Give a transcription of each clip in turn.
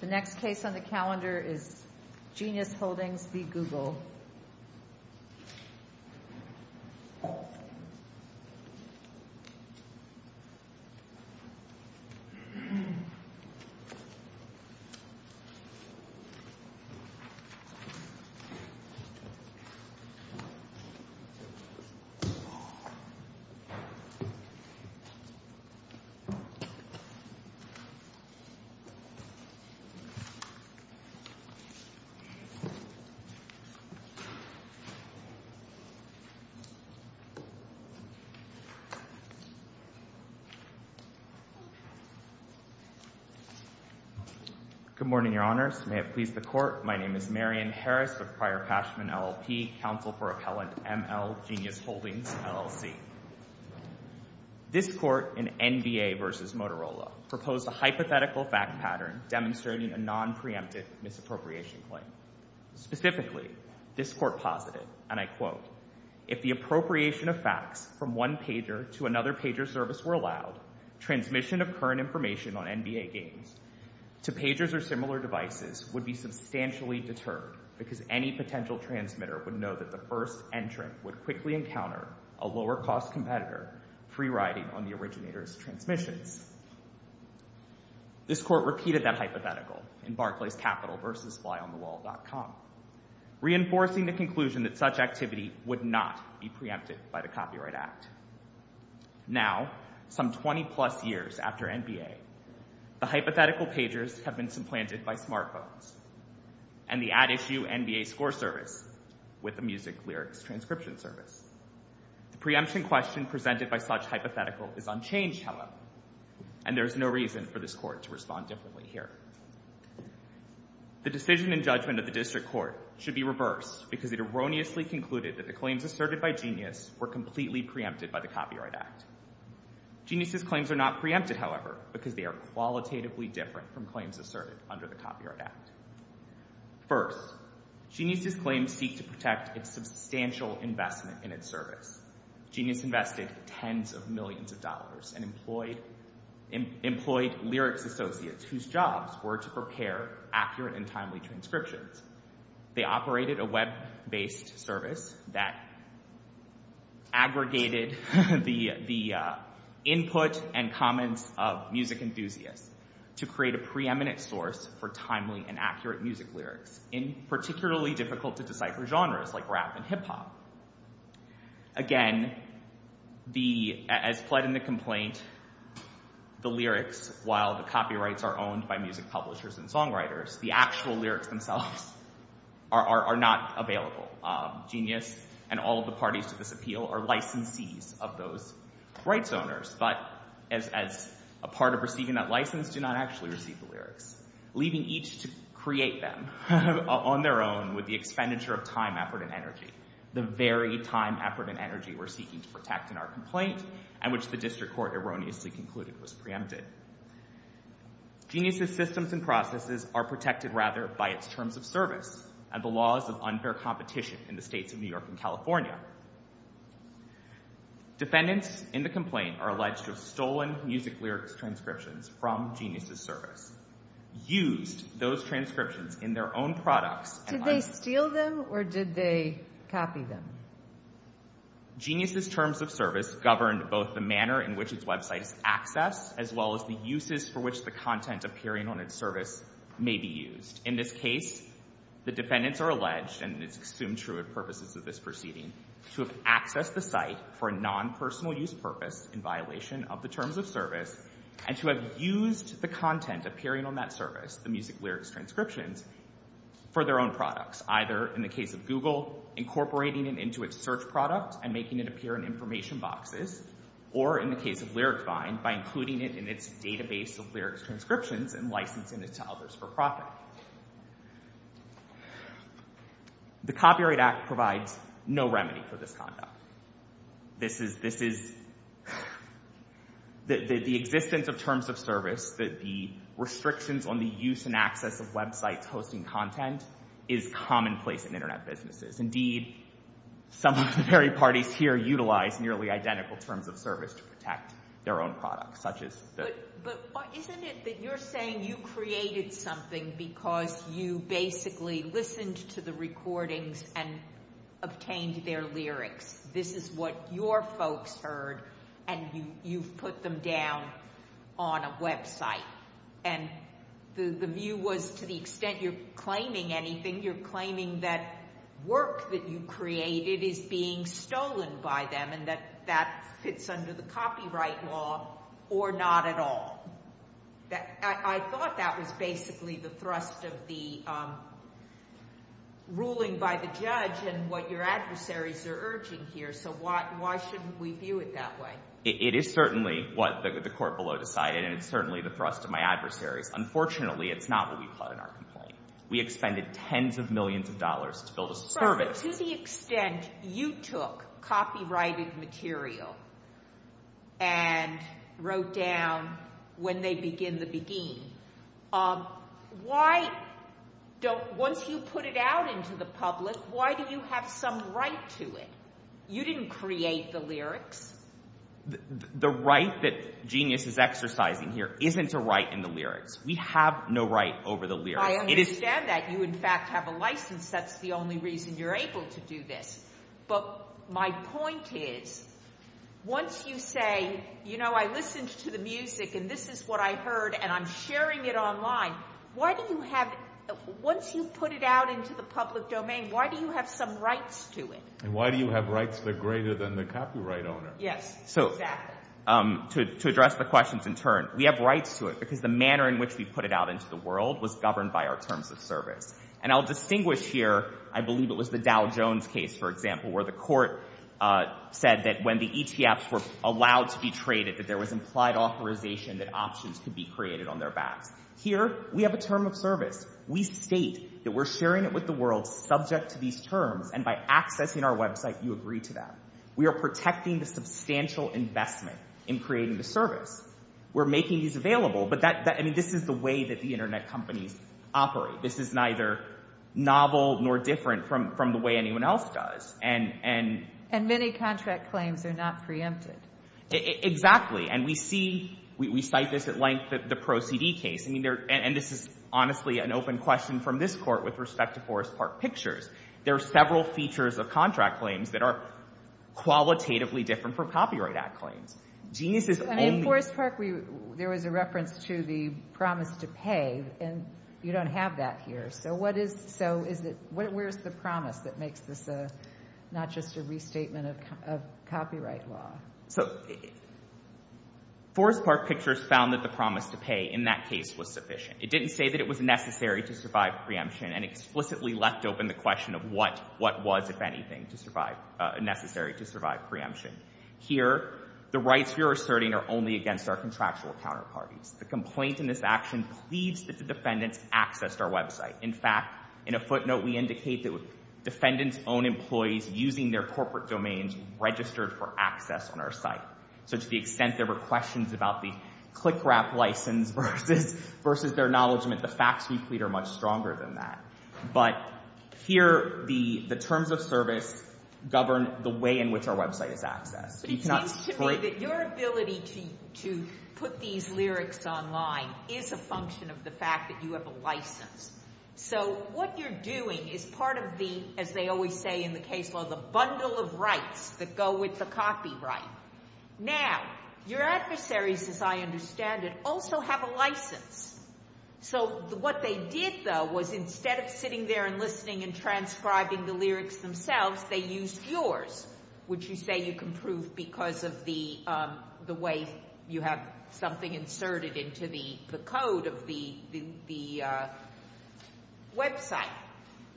The next case on the calendar is Genius Holdings v. Google. Marion Harris Good morning, Your Honors. May it please the Court, my name is Marion Harris with prior passion in LLP, counsel for appellant M.L. Genius Holdings, LLC. This Court in NBA v. Motorola proposed a hypothetical fact pattern demonstrating a non-preemptive misappropriation claim. Specifically, this Court posited, and I quote, If the appropriation of facts from one pager to another pager's service were allowed, transmission of current information on NBA games to pagers or similar devices would be substantially deterred because any potential transmitter would know that the first entrant would quickly encounter a lower-cost competitor free-riding on the originator's transmissions. This Court repeated that hypothetical in Barclays Capital v. FlyOnTheWall.com, reinforcing the conclusion that such activity would not be preempted by the Copyright Act. Now, some 20-plus years after NBA, the hypothetical pagers have been supplanted by smartphones and the at-issue NBA ScoreService with the Music Lyrics Transcription Service. The preemption question presented by such hypothetical is unchanged, however, and there is no reason for this Court to respond differently here. The decision in judgment of the District Court should be reversed because it erroneously concluded that the claims asserted by Genius were completely preempted by the Copyright Act. Genius's claims are not preempted, however, because they are qualitatively different from First, Genius's claims seek to protect its substantial investment in its service. Genius invested tens of millions of dollars and employed lyrics associates whose jobs were to prepare accurate and timely transcriptions. They operated a web-based service that aggregated the input and comments of music enthusiasts to create a preeminent source for timely and accurate music lyrics in particularly difficult-to-decipher genres like rap and hip-hop. Again, as pled in the complaint, the lyrics, while the copyrights are owned by music publishers and songwriters, the actual lyrics themselves are not available. Genius and all of the parties to this appeal are licensees of those rights owners, but as a part of receiving that license, do not actually receive the lyrics, leaving each to create them on their own with the expenditure of time, effort, and energy, the very time, effort, and energy we're seeking to protect in our complaint and which the District Court erroneously concluded was preempted. Genius's systems and processes are protected, rather, by its terms of service and the laws Defendants in the complaint are alleged of stolen music lyrics transcriptions from Genius's service, used those transcriptions in their own products. Did they steal them or did they copy them? Genius's terms of service governed both the manner in which its website is accessed, as well as the uses for which the content appearing on its service may be used. In this case, the defendants are alleged, and it's assumed true of purposes of this proceeding, to have accessed the site for a non-personal use purpose in violation of the terms of service and to have used the content appearing on that service, the music lyrics transcriptions, for their own products, either in the case of Google, incorporating it into its search product and making it appear in information boxes, or in the case of Lyricvine, by including it in its database of lyrics transcriptions and licensing it to others for profit. The Copyright Act provides no remedy for this conduct. This is, this is, the existence of terms of service, the restrictions on the use and access of websites hosting content, is commonplace in Internet businesses. Indeed, some of the very parties here utilize nearly identical terms of service to protect their own products, such as... But isn't it that you're saying you created something because you basically listened to the recordings and obtained their lyrics? This is what your folks heard, and you've put them down on a website. And the view was, to the extent you're claiming anything, you're claiming that work that you created is being stolen by them and that that fits under the copyright law or not at all. I thought that was basically the thrust of the ruling by the judge and what your adversaries are urging here, so why shouldn't we view it that way? It is certainly what the court below decided, and it's to the extent you took copyrighted material and wrote down when they begin the beguine, why don't, once you put it out into the public, why do you have some right to it? You didn't create the lyrics. The right that Genius is exercising here isn't a right in the lyrics. We have no right over the lyrics. I understand that. You, in fact, have a license. That's the only reason you're able to do this. But my point is, once you say, you know, I listened to the music, and this is what I heard, and I'm sharing it online, why do you have... Once you put it out into the public domain, why do you have some rights to it? And why do you have rights that are greater than the copyright owner? To address the questions in turn, we have rights to it because the manner in which we put it out into the world was governed by our terms of service. And I'll distinguish here, I believe it was the Dow Jones case, for example, where the court said that when the ETFs were allowed to be traded, that there was implied authorization that options could be created on their backs. Here, we have a term of service. We state that we're sharing it with the world subject to these terms. And by accessing our website, you agree to that. We are protecting the substantial investment in creating the service. We're making these available. But this is the way that the Internet companies operate. This is neither novel nor different from the way anyone else does. And many contract claims are not preempted. Exactly. And we see, we cite this at length, the Pro CD case. And this is honestly an open question from this court with respect to Forest Park Pictures. There are several features of contract claims that are qualitatively different from copyright act claims. Genius is only... And in Forest Park, there was a reference to the promise to pay, and you don't have that here. So where's the promise that makes this not just a restatement of copyright law? So Forest Park Pictures found that the promise to pay in that case was sufficient. It didn't say that it was necessary to survive preemption and explicitly left open the question of what was, if anything, necessary to survive preemption. Here, the rights you're asserting are only against our contractual counterparties. The complaint in this action pleads that the defendants accessed our website. In fact, in a footnote, we indicate that defendants' own employees using their corporate domains registered for access on our site. So to the extent there were questions about the click-wrap license versus their acknowledgement, the facts we plead are much stronger than that. But here, the terms of service govern the way in which our website is accessed. But it seems to me that your ability to put these lyrics online is a function of the fact that you have a license. So what you're doing is part of the, as they always say in the case law, the bundle of rights that go with the copyright. Now, your adversaries, as I understand it, also have a license. So what they did, though, was instead of sitting there and listening and transcribing the lyrics themselves, they used yours, which you say you can prove because of the way you have something inserted into the code of the website.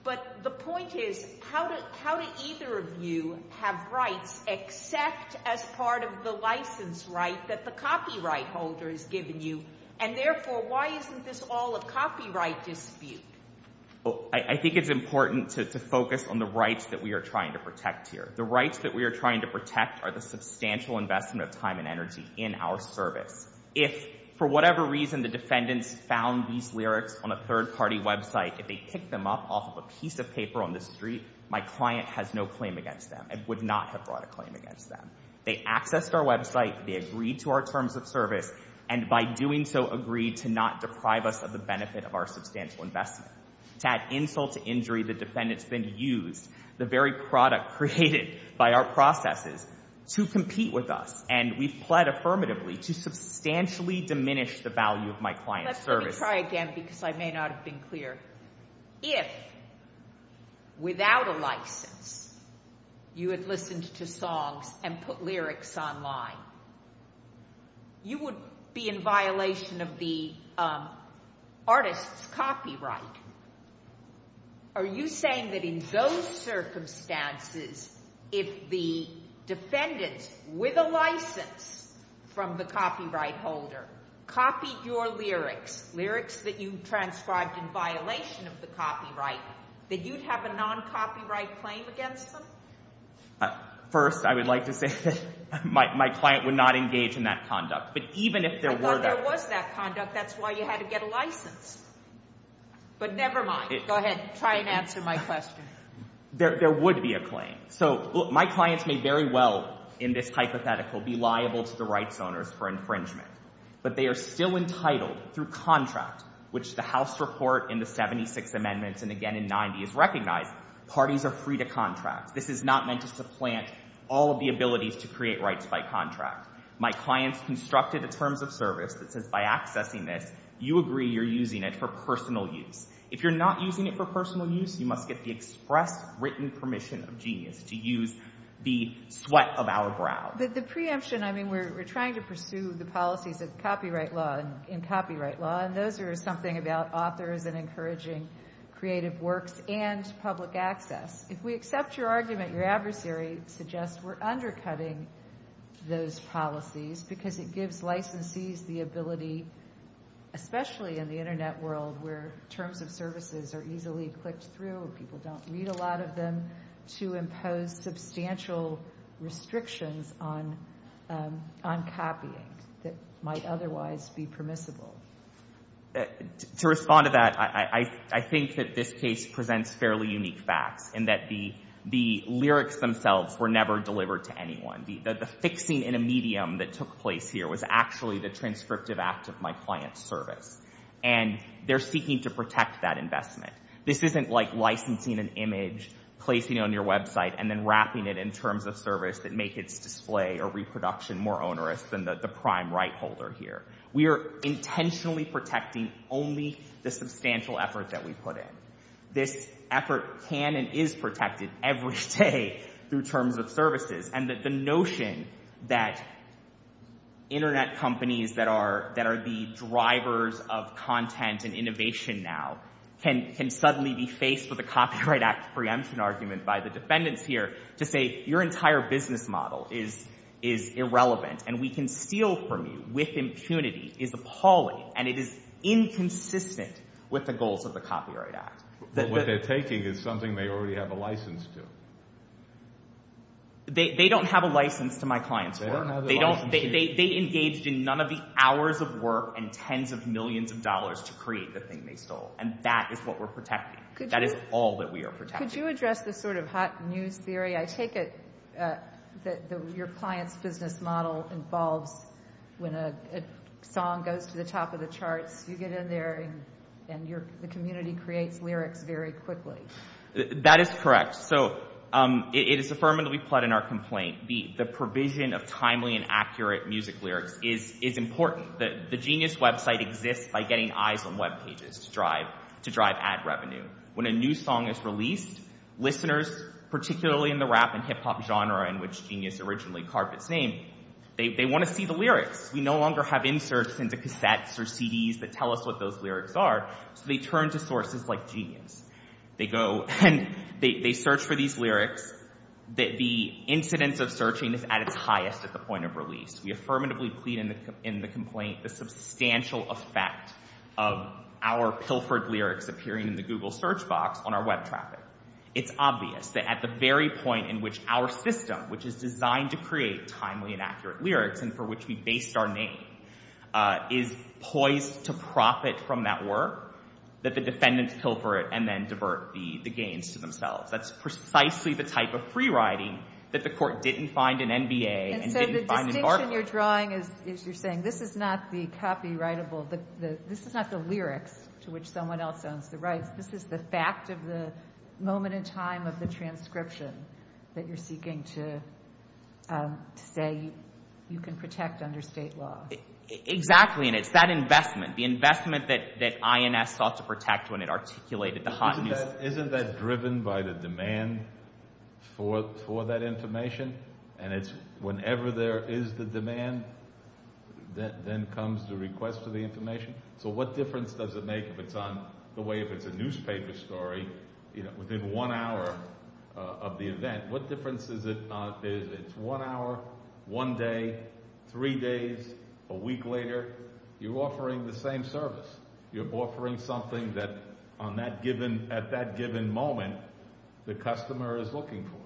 But the point is, how do either of you have rights except as part of the license right that the copyright holder has given you? And therefore, why isn't this all a copyright dispute? I think it's important to focus on the rights that we are trying to protect here. The rights that we are trying to protect are the substantial investment of time and energy in our service. If, for whatever reason, the defendants found these lyrics on a third-party website, if they picked them up off of a piece of paper on the street, my client has no claim against them and would not have brought a claim against them. They accessed our website, they agreed to our terms of service, and by doing so, agreed to not deprive us of the benefit of our substantial investment. To add insult to injury, the defendants then used the very product created by our processes to compete with us, and we've pled affirmatively to substantially diminish the value of my client's service. Let me try again because I may not have been clear. If, without a license, you had listened to songs and put lyrics online, you would be in violation of the artist's copyright. Are you saying that in those circumstances, if the defendants, with a license from the copyright holder, copied your lyrics, lyrics that you transcribed in violation of the copyright, that you'd have a non-copyright claim against them? First, I would like to say that my client would not engage in that conduct. I thought there was that conduct. That's why you had to get a license. But never mind. Go ahead. Try and answer my question. There would be a claim. My clients may very well, in this hypothetical, be liable to the rights owners for infringement, but they are still entitled, through contract, which the House report in the 76 amendments and again in 90 is recognized, parties are free to contract. This is not meant to supplant all of the abilities to create rights by contract. My clients constructed a terms of service that says by accessing this, you agree you're using it for personal use. If you're not using it for personal use, you must get the express written permission of Genius to use the sweat of our brow. But the preemption, I mean, we're trying to pursue the policies of copyright law and copyright law, and those are something about authors and encouraging creative works and public access. If we accept your argument, your adversary suggests we're undercutting those policies because it gives licensees the ability, especially in the Internet world, where terms of services are easily clicked through and people don't read a lot of them, to impose substantial restrictions on copying that might otherwise be permissible. To respond to that, I think that this case presents fairly unique facts in that the lyrics themselves were never delivered to anyone. The fixing in a medium that took place here was actually the transcriptive act of my client's service. And they're seeking to protect that investment. This isn't like licensing an image, placing it on your website, and then wrapping it in terms of service that make its display or reproduction more onerous than the prime right holder here. We are intentionally protecting only the substantial effort that we put in. This effort can and is protected every day through terms of services. And the notion that Internet companies that are the drivers of content and innovation now can suddenly be faced with a Copyright Act preemption argument by the defendants here to say your entire business model is irrelevant and we can steal from you with impunity is appalling and it is inconsistent with the goals of the Copyright Act. But what they're taking is something they already have a license to. They don't have a license to my client's work. They engaged in none of the hours of work and tens of millions of dollars to create the thing they stole. And that is what we're protecting. That is all that we are protecting. Could you address this sort of hot news theory? I take it that your client's business model involves when a song goes to the top of the charts, you get in there and the community creates lyrics very quickly. That is correct. So it is affirmatively put in our complaint. The provision of timely and accurate music lyrics is important. The Genius website exists by getting eyes on webpages to drive ad revenue. When a new song is released, listeners, particularly in the rap and hip-hop genre in which Genius originally carved its name, they want to see the lyrics. We no longer have inserts into cassettes or CDs that tell us what those lyrics are. So they turn to sources like Genius. They search for these lyrics. The incidence of searching is at its highest at the point of release. We affirmatively plead in the complaint the substantial effect of our pilfered lyrics appearing in the Google search box on our web traffic. It's obvious that at the very point in which our system, which is designed to create timely and accurate lyrics and for which we based our name, is poised to profit from that work, that the defendants pilfer it and then divert the gains to themselves. That's precisely the type of free-writing that the court didn't find in NBA and didn't find in Barkley. And so the distinction you're drawing is you're saying this is not the copyrightable, this is not the lyrics to which someone else owns the rights. This is the fact of the moment in time of the transcription that you're seeking to say you can protect under state law. Exactly, and it's that investment, the investment that INS sought to protect when it articulated the hot news. Isn't that driven by the demand for that information? And it's whenever there is the demand, then comes the request for the information? So what difference does it make if it's on the way, if it's a newspaper story, within one hour of the event? What difference is it not? It's one hour, one day, three days, a week later. You're offering the same service. You're offering something that, at that given moment, the customer is looking for.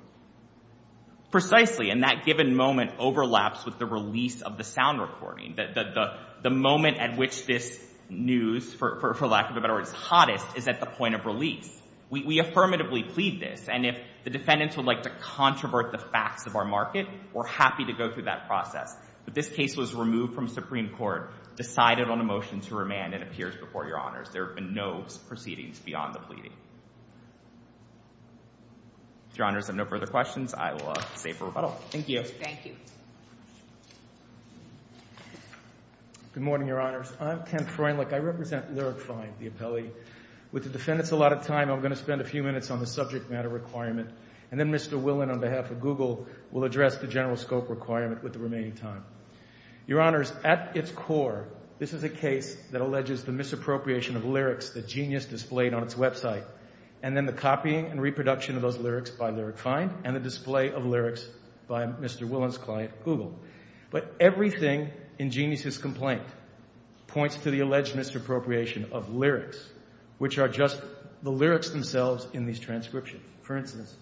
Precisely, and that given moment overlaps with the release of the sound recording. The moment at which this news, for lack of a better word, is hottest is at the point of release. We affirmatively plead this, and if the defendants would like to controvert the facts of our market, we're happy to go through that process. But this case was removed from Supreme Court, decided on a motion to remand, and appears before Your Honors. There have been no proceedings beyond the pleading. If Your Honors have no further questions, I will say for rebuttal. Thank you. Good morning, Your Honors. I'm Ken Freundlich. I represent Lyric Find, the appellee. With the defendants a lot of time, I'm going to spend a few minutes on the subject matter requirement, and then Mr. Willen, on behalf of Google, will address the general scope requirement with the remaining time. Your Honors, at its core, this is a case that alleges the misappropriation of lyrics that Genius displayed on its website, and then the copying and reproduction of those lyrics by Lyric Find, and the display of lyrics by Mr. Willen's client, Google. But everything in Genius's complaint points to the alleged misappropriation of lyrics, which are just the lyrics themselves in these transcriptions. For instance,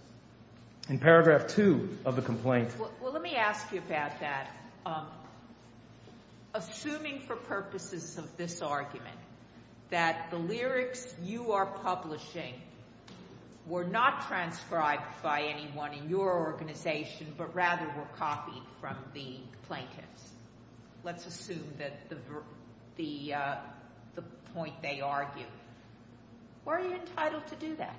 in paragraph 2 of the complaint— Well, let me ask you about that. Assuming for purposes of this argument that the lyrics you are publishing were not transcribed by anyone in your organization, but rather were copied from the plaintiffs. Let's assume that the point they argue. Why are you entitled to do that?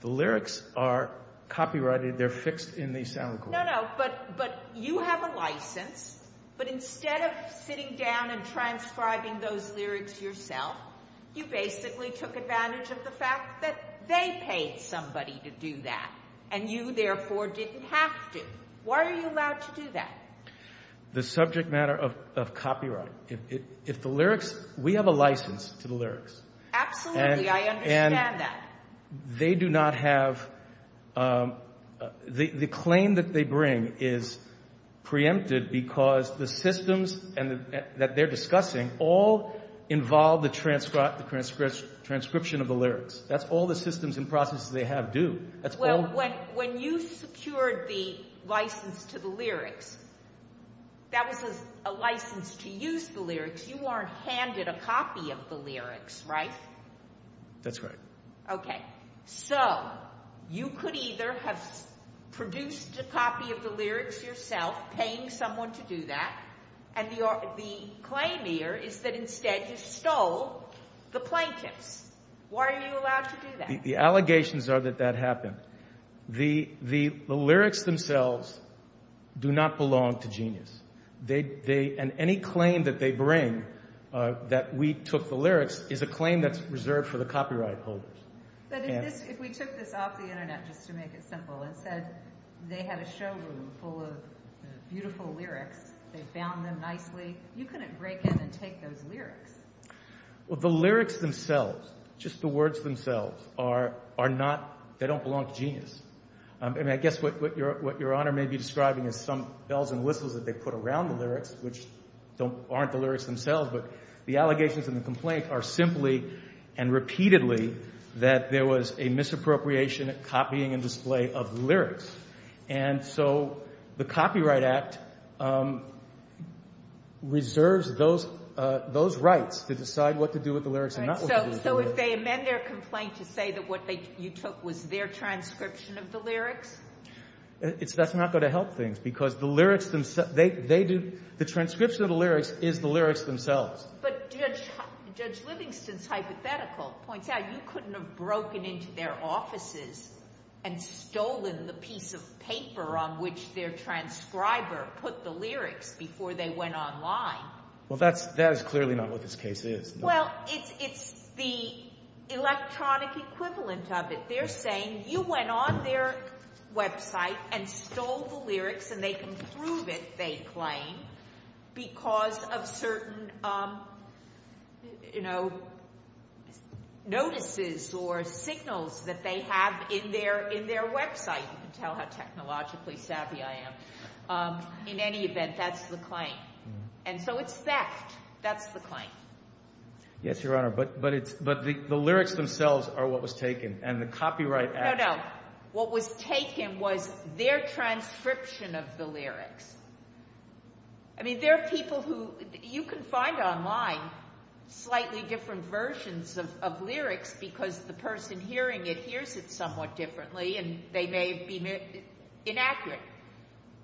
The lyrics are copyrighted. They're fixed in the sound recording. No, no, but you have a license, but instead of sitting down and transcribing those lyrics yourself, you basically took advantage of the fact that they paid somebody to do that, and you, therefore, didn't have to. Why are you allowed to do that? The subject matter of copyright. We have a license to the lyrics. Absolutely, I understand that. The claim that they bring is preempted because the systems that they're discussing all involve the transcription of the lyrics. That's all the systems and processes they have do. When you secured the license to the lyrics, that was a license to use the lyrics. You weren't handed a copy of the lyrics, right? That's right. You could either have produced a copy of the lyrics yourself, paying someone to do that, and the claim here is that instead you stole the plaintiffs. Why are you allowed to do that? The allegations are that that happened. The lyrics themselves do not belong to Genius. Any claim that they bring, that we took the lyrics, is a claim that's reserved for the copyright holders. But if we took this off the Internet, just to make it simple, and said they had a showroom full of beautiful lyrics, they found them nicely, you couldn't break in and take those lyrics. The lyrics themselves, just the words themselves, don't belong to Genius. I guess what Your Honor may be describing is some bells and whistles that they put around the lyrics, which aren't the lyrics themselves, but the allegations and the complaint are simply and repeatedly that there was a misappropriation, copying and display of the lyrics. And so the Copyright Act reserves those rights to decide what to do with the lyrics and not what to do with the lyrics. So if they amend their complaint to say that what you took was their transcription of the lyrics? That's not going to help things because the transcription of the lyrics is the lyrics themselves. But Judge Livingston's hypothetical points out you couldn't have broken into their offices and stolen the piece of paper on which their transcriber put the lyrics before they went online. Well, that is clearly not what this case is. Well, it's the electronic equivalent of it. They're saying you went on their website and stole the lyrics and they can prove it, they claim, because of certain notices or signals that they have in their website. You can tell how technologically savvy I am. In any event, that's the claim. And so it's theft. That's the claim. Yes, Your Honor, but the lyrics themselves are what was taken and the Copyright Act. No, no. What was taken was their transcription of the lyrics. I mean, there are people who you can find online slightly different versions of lyrics because the person hearing it hears it somewhat differently and they may be inaccurate.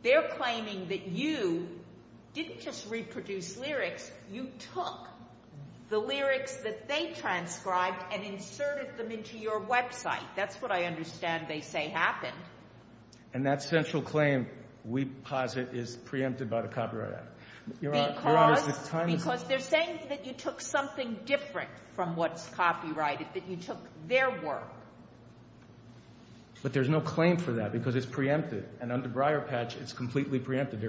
They're claiming that you didn't just reproduce lyrics. You took the lyrics that they transcribed and inserted them into your website. That's what I understand they say happened. And that central claim, we posit, is preempted by the Copyright Act. Because they're saying that you took something different from what's copyrighted, that you took their work. But there's no claim for that because it's preempted. And under Breyer Patch, it's completely preempted.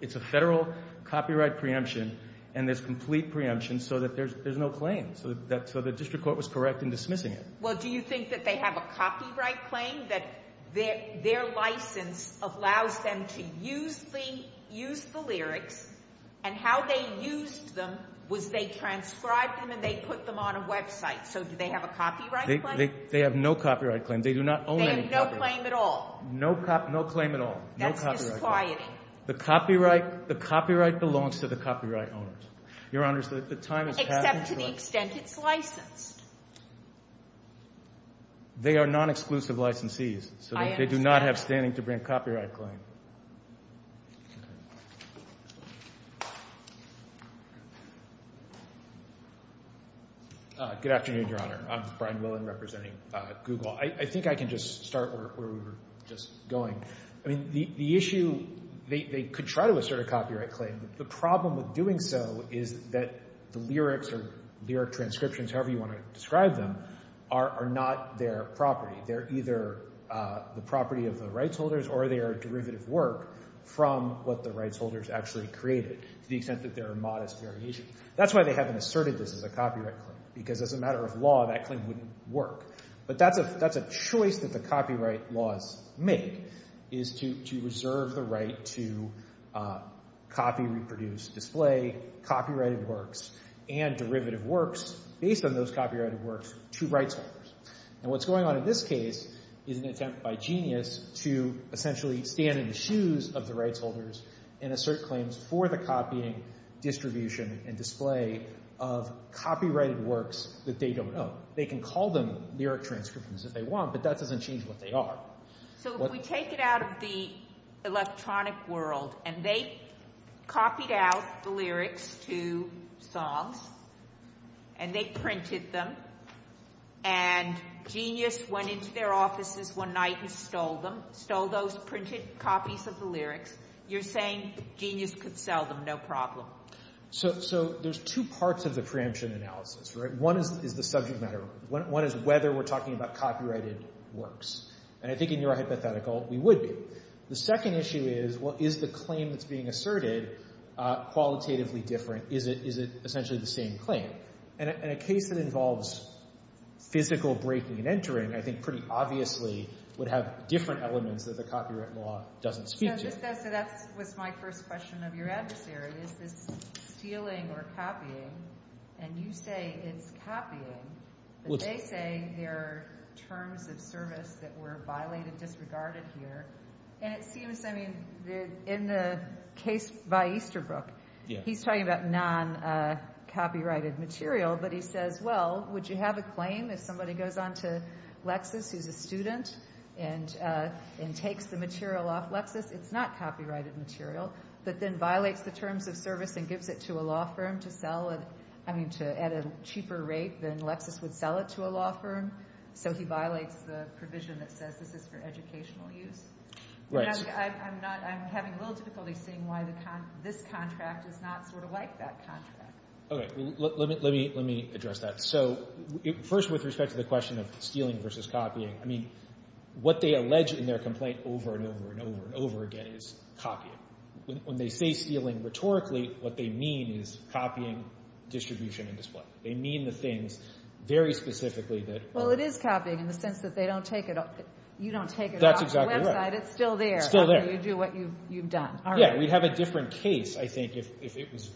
It's a federal copyright preemption and there's complete preemption so that there's no claim. So the district court was correct in dismissing it. Well, do you think that they have a copyright claim that their license allows them to use the lyrics and how they used them was they transcribed them and they put them on a website. So do they have a copyright claim? They have no copyright claim. They do not own any copyright. They have no claim at all. No claim at all. That's disquieting. The copyright belongs to the copyright owners. Your Honors, the time has passed. Except to the extent it's licensed. They are non-exclusive licensees. I understand. So they do not have standing to bring a copyright claim. Okay. Good afternoon, Your Honor. I'm Brian Willen representing Google. I think I can just start where we were just going. I mean, the issue, they could try to assert a copyright claim. The problem with doing so is that the lyrics or lyric transcriptions, however you want to describe them, are not their property. They're either the property of the rights holders or they are derivative work from what the rights holders actually created to the extent that there are modest variations. That's why they haven't asserted this as a copyright claim because as a matter of law, that claim wouldn't work. But that's a choice that the copyright laws make is to reserve the right to copy, reproduce, display copyrighted works and derivative works based on those copyrighted works to rights holders. And what's going on in this case is an attempt by Genius to essentially stand in the shoes of the rights holders and assert claims for the copying, distribution, and display of copyrighted works that they don't own. They can call them lyric transcriptions if they want, but that doesn't change what they are. So if we take it out of the electronic world and they copied out the lyrics to songs and they printed them and Genius went into their offices one night and stole them, stole those printed copies of the lyrics, you're saying Genius could sell them, no problem. So there's two parts of the preemption analysis. One is the subject matter. One is whether we're talking about copyrighted works. And I think in your hypothetical, we would be. The second issue is, well, is the claim that's being asserted qualitatively different? Is it essentially the same claim? And in a case that involves physical breaking and entering, I think pretty obviously would have different elements that the copyright law doesn't speak to. So that was my first question of your adversary. Is this stealing or copying? And you say it's copying, but they say there are terms of service that were violated, disregarded here. And it seems, I mean, in the case by Easterbrook, he's talking about non-copyrighted material, but he says, well, would you have a claim if somebody goes on to Lexis, who's a student, and takes the material off Lexis? It's not copyrighted material, but then violates the terms of service and gives it to a law firm to sell it, I mean, at a cheaper rate than Lexis would sell it to a law firm. So he violates the provision that says this is for educational use? Right. I'm having a little difficulty seeing why this contract is not sort of like that contract. Okay. Let me address that. So first, with respect to the question of stealing versus copying, I mean, what they allege in their complaint over and over and over and over again is copying. When they say stealing rhetorically, what they mean is copying, distribution, and display. They mean the things very specifically that are. Well, it is copying in the sense that they don't take it off. You don't take it off the website. That's exactly right. It's still there. It's still there. After you do what you've done. Yeah. We'd have a different case, I think, if it was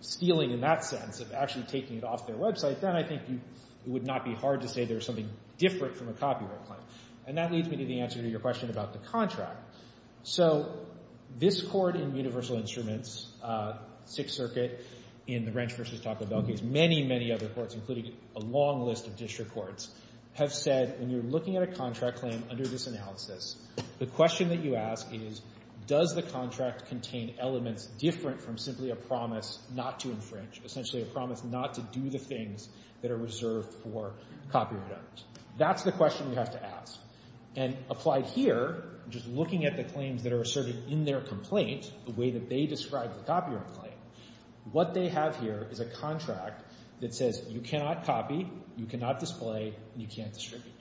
stealing in that sense, of actually taking it off their website. Then I think it would not be hard to say there's something different from a copyright claim. And that leads me to the answer to your question about the contract. So this court in Universal Instruments, Sixth Circuit, in the Wrench v. Taco Bell case, many, many other courts, including a long list of district courts, have said when you're looking at a contract claim under this analysis, the question that you ask is does the contract contain elements different from simply a promise not to infringe, essentially a promise not to do the things that are reserved for copyright owners. That's the question we have to ask. And applied here, just looking at the claims that are asserted in their complaint, the way that they describe the copyright claim, what they have here is a contract that says you cannot copy, you cannot display, and you can't distribute.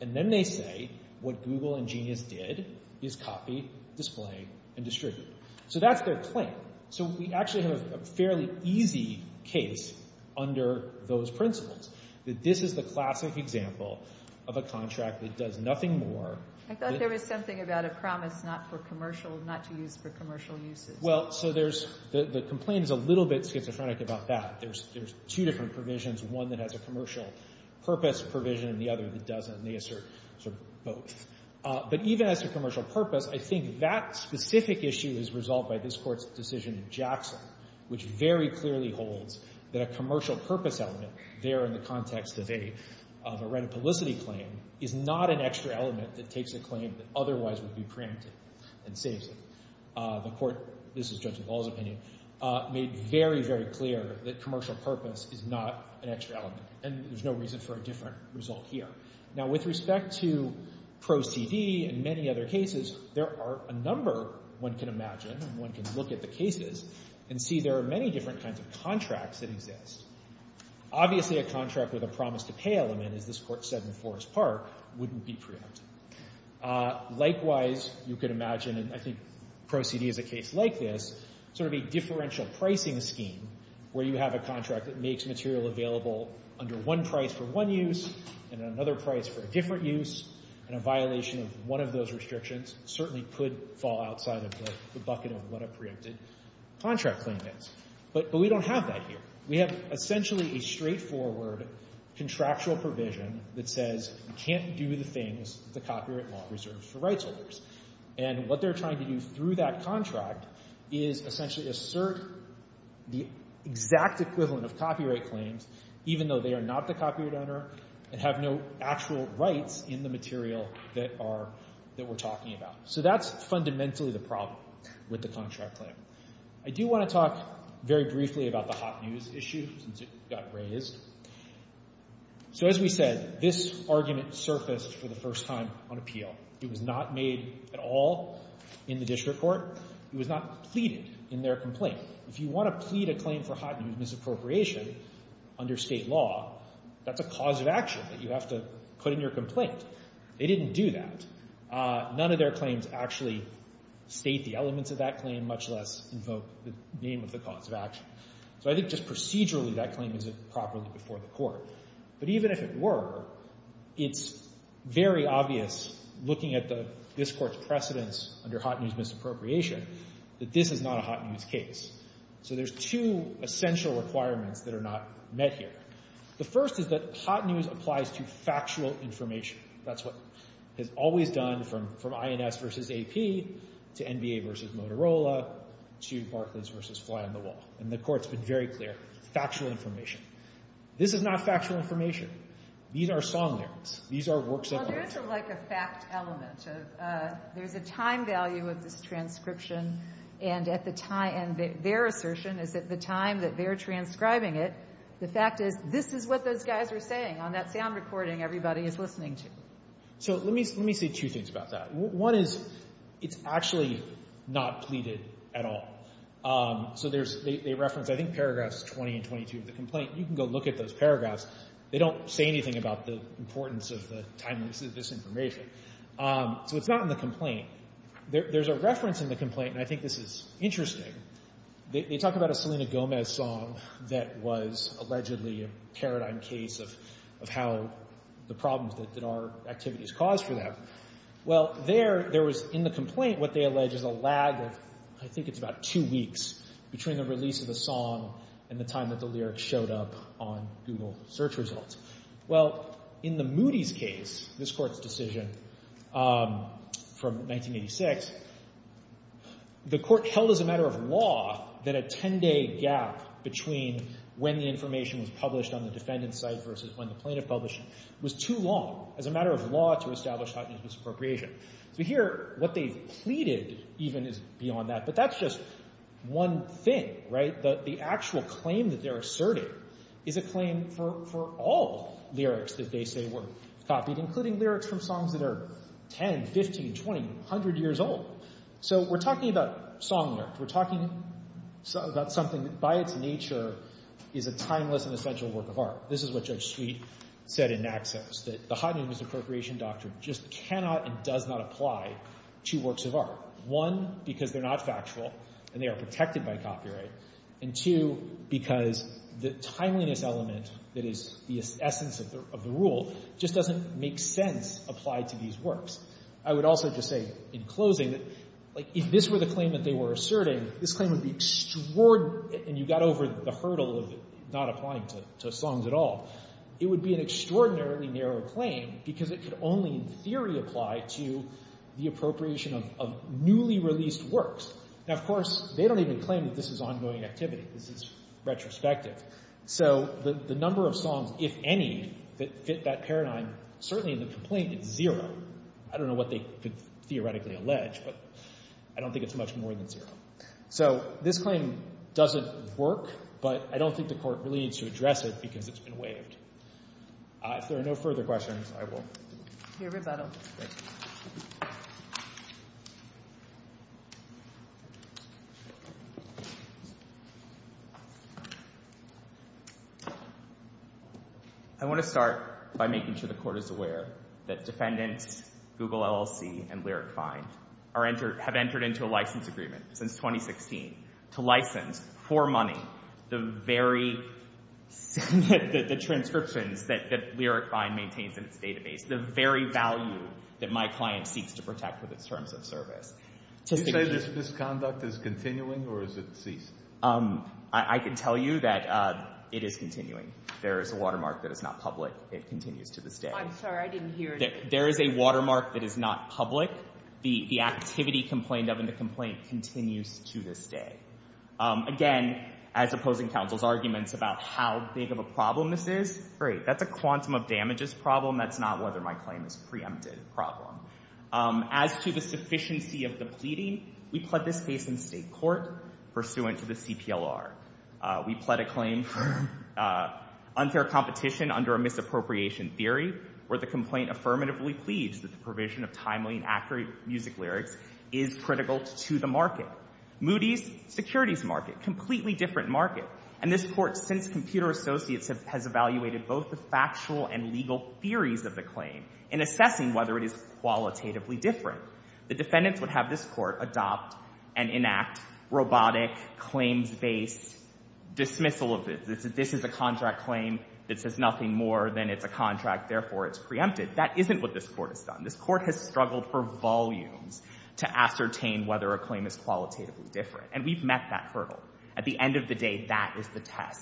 And then they say what Google and Genius did is copy, display, and distribute. So that's their claim. So we actually have a fairly easy case under those principles, that this is the classic example of a contract that does nothing more. I thought there was something about a promise not for commercial, not to use for commercial uses. Well, so there's the complaint is a little bit schizophrenic about that. There's two different provisions, one that has a commercial purpose provision and the other that doesn't, and they assert both. But even as to commercial purpose, I think that specific issue is resolved by this Court's decision in Jackson, which very clearly holds that a commercial purpose element there in the context of a reticulicity claim is not an extra element that takes a claim that otherwise would be preempted and saves it. The Court, this is Judge McAuliffe's opinion, made very, very clear that commercial purpose is not an extra element, and there's no reason for a different result here. Now with respect to prose TV and many other cases, there are a number one can imagine and one can look at the cases and see there are many different kinds of contracts that exist. Obviously a contract with a promise to pay element, as this Court said in Forest Park, wouldn't be preempted. Likewise, you can imagine, and I think pro se is a case like this, sort of a differential pricing scheme where you have a contract that makes material available under one price for one use and another price for a different use, and a violation of one of those restrictions certainly could fall outside of the bucket of what a preempted contract claim is. But we don't have that here. We have essentially a straightforward contractual provision that says you can't do the things that the copyright law reserves for rights holders, and what they're trying to do through that contract is essentially assert the exact equivalent of copyright claims even though they are not the copyright owner and have no actual rights in the material that we're talking about. So that's fundamentally the problem with the contract claim. I do want to talk very briefly about the hot news issue since it got raised. So as we said, this argument surfaced for the first time on appeal. It was not made at all in the district court. It was not pleaded in their complaint. If you want to plead a claim for hot news misappropriation under state law, that's a cause of action that you have to put in your complaint. They didn't do that. None of their claims actually state the elements of that claim much less invoke the name of the cause of action. So I think just procedurally that claim isn't properly before the court. But even if it were, it's very obvious looking at this court's precedence under hot news misappropriation that this is not a hot news case. So there's two essential requirements that are not met here. The first is that hot news applies to factual information. That's what has always done from INS v. AP to NBA v. Motorola to Barclays v. Fly on the Wall. And the court's been very clear, factual information. This is not factual information. These are song lyrics. These are works of art. Well, there's a fact element. There's a time value of this transcription, and their assertion is that the time that they're transcribing it, the fact is this is what those guys are saying on that sound recording everybody is listening to. So let me say two things about that. One is it's actually not pleaded at all. So they reference, I think, paragraphs 20 and 22 of the complaint. You can go look at those paragraphs. They don't say anything about the importance of the timeliness of this information. So it's not in the complaint. There's a reference in the complaint, and I think this is interesting. They talk about a Selena Gomez song that was allegedly a paradigm case of how the problems that our activities caused for them. Well, there was in the complaint what they allege is a lag of, I think it's about two weeks between the release of the song and the time that the lyrics showed up on Google search results. Well, in the Moody's case, this court's decision from 1986, the court held as a matter of law that a 10-day gap between when the information was published on the defendant's side versus when the plaintiff published it was too long as a matter of law to establish hot news misappropriation. So here, what they've pleaded even is beyond that. But that's just one thing, right? The actual claim that they're asserting is a claim for all lyrics that they say were copied, including lyrics from songs that are 10, 15, 20, 100 years old. So we're talking about song lyrics. We're talking about something that, by its nature, is a timeless and essential work of art. This is what Judge Sweet said in Naxos, that the hot news misappropriation doctrine just cannot and does not apply to works of art, one, because they're not factual and they are protected by copyright, and two, because the timeliness element that is the essence of the rule just doesn't make sense applied to these works. I would also just say, in closing, that, like, if this were the claim that they were asserting, this claim would be extraordinary, and you got over the hurdle of it not applying to songs at all. It would be an extraordinarily narrow claim because it could only, in theory, apply to the appropriation of newly released works. Now, of course, they don't even claim that this is ongoing activity. This is retrospective. So the number of songs, if any, that fit that paradigm, certainly in the complaint, is zero. I don't know what they could theoretically allege, but I don't think it's much more than zero. So this claim doesn't work, but I don't think the Court really needs to address it because it's been waived. If there are no further questions, I will... Your rebuttal. Thank you. I want to start by making sure the Court is aware that defendants, Google LLC, and Lyric Find have entered into a license agreement since 2016 to license for money the very... the transcriptions that Lyric Find maintains in its database, the very value that my client seeks to protect with its terms of service. Do you say this misconduct is continuing or is it ceased? I can tell you that it is continuing. There is a watermark that is not public. It continues to this day. I'm sorry. I didn't hear you. There is a watermark that is not public. The activity complained of in the complaint continues to this day. Again, as opposing counsel's arguments about how big of a problem this is, great. That's a quantum of damages problem. That's not whether my claim is a preempted problem. As to the sufficiency of the pleading, we pled this case in state court pursuant to the CPLR. We pled a claim for unfair competition under a misappropriation theory where the complaint affirmatively pleads that the provision of timely and accurate music lyrics is critical to the market. Moody's, securities market, completely different market. And this Court, since Computer Associates, has evaluated both the factual and legal theories of the claim in assessing whether it is qualitatively different. The defendants would have this Court adopt and enact robotic claims-based dismissal of it. This is a contract claim. This is nothing more than it's a contract, therefore it's preempted. That isn't what this Court has done. This Court has struggled for volumes to ascertain whether a claim is qualitatively different. And we've met that hurdle. At the end of the day, that is the test.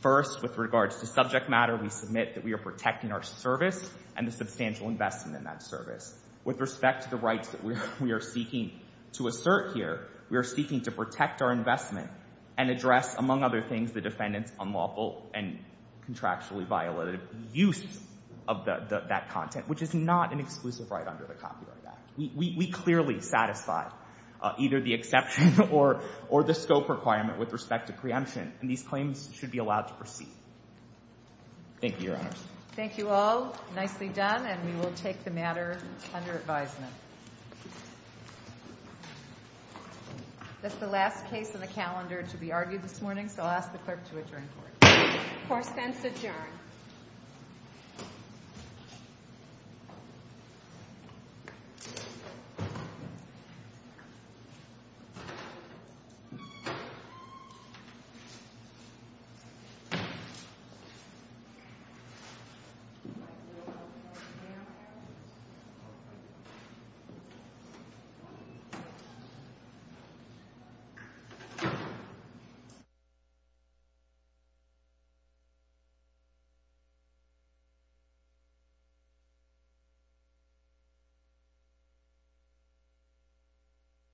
First, with regards to subject matter, we submit that we are protecting our service and the substantial investment in that service. With respect to the rights that we are seeking to assert here, we are seeking to protect our investment and address, among other things, the defendant's unlawful and contractually violated use of that content, which is not an exclusive right under the Copyright Act. We clearly satisfy either the exception or the scope requirement with respect to preemption. And these claims should be allowed to proceed. Thank you, Your Honors. Thank you all. Nicely done. And we will take the matter under advisement. That's the last case on the calendar to be argued this morning, so I'll ask the clerk to adjourn the Court. Court is adjourned. Thank you.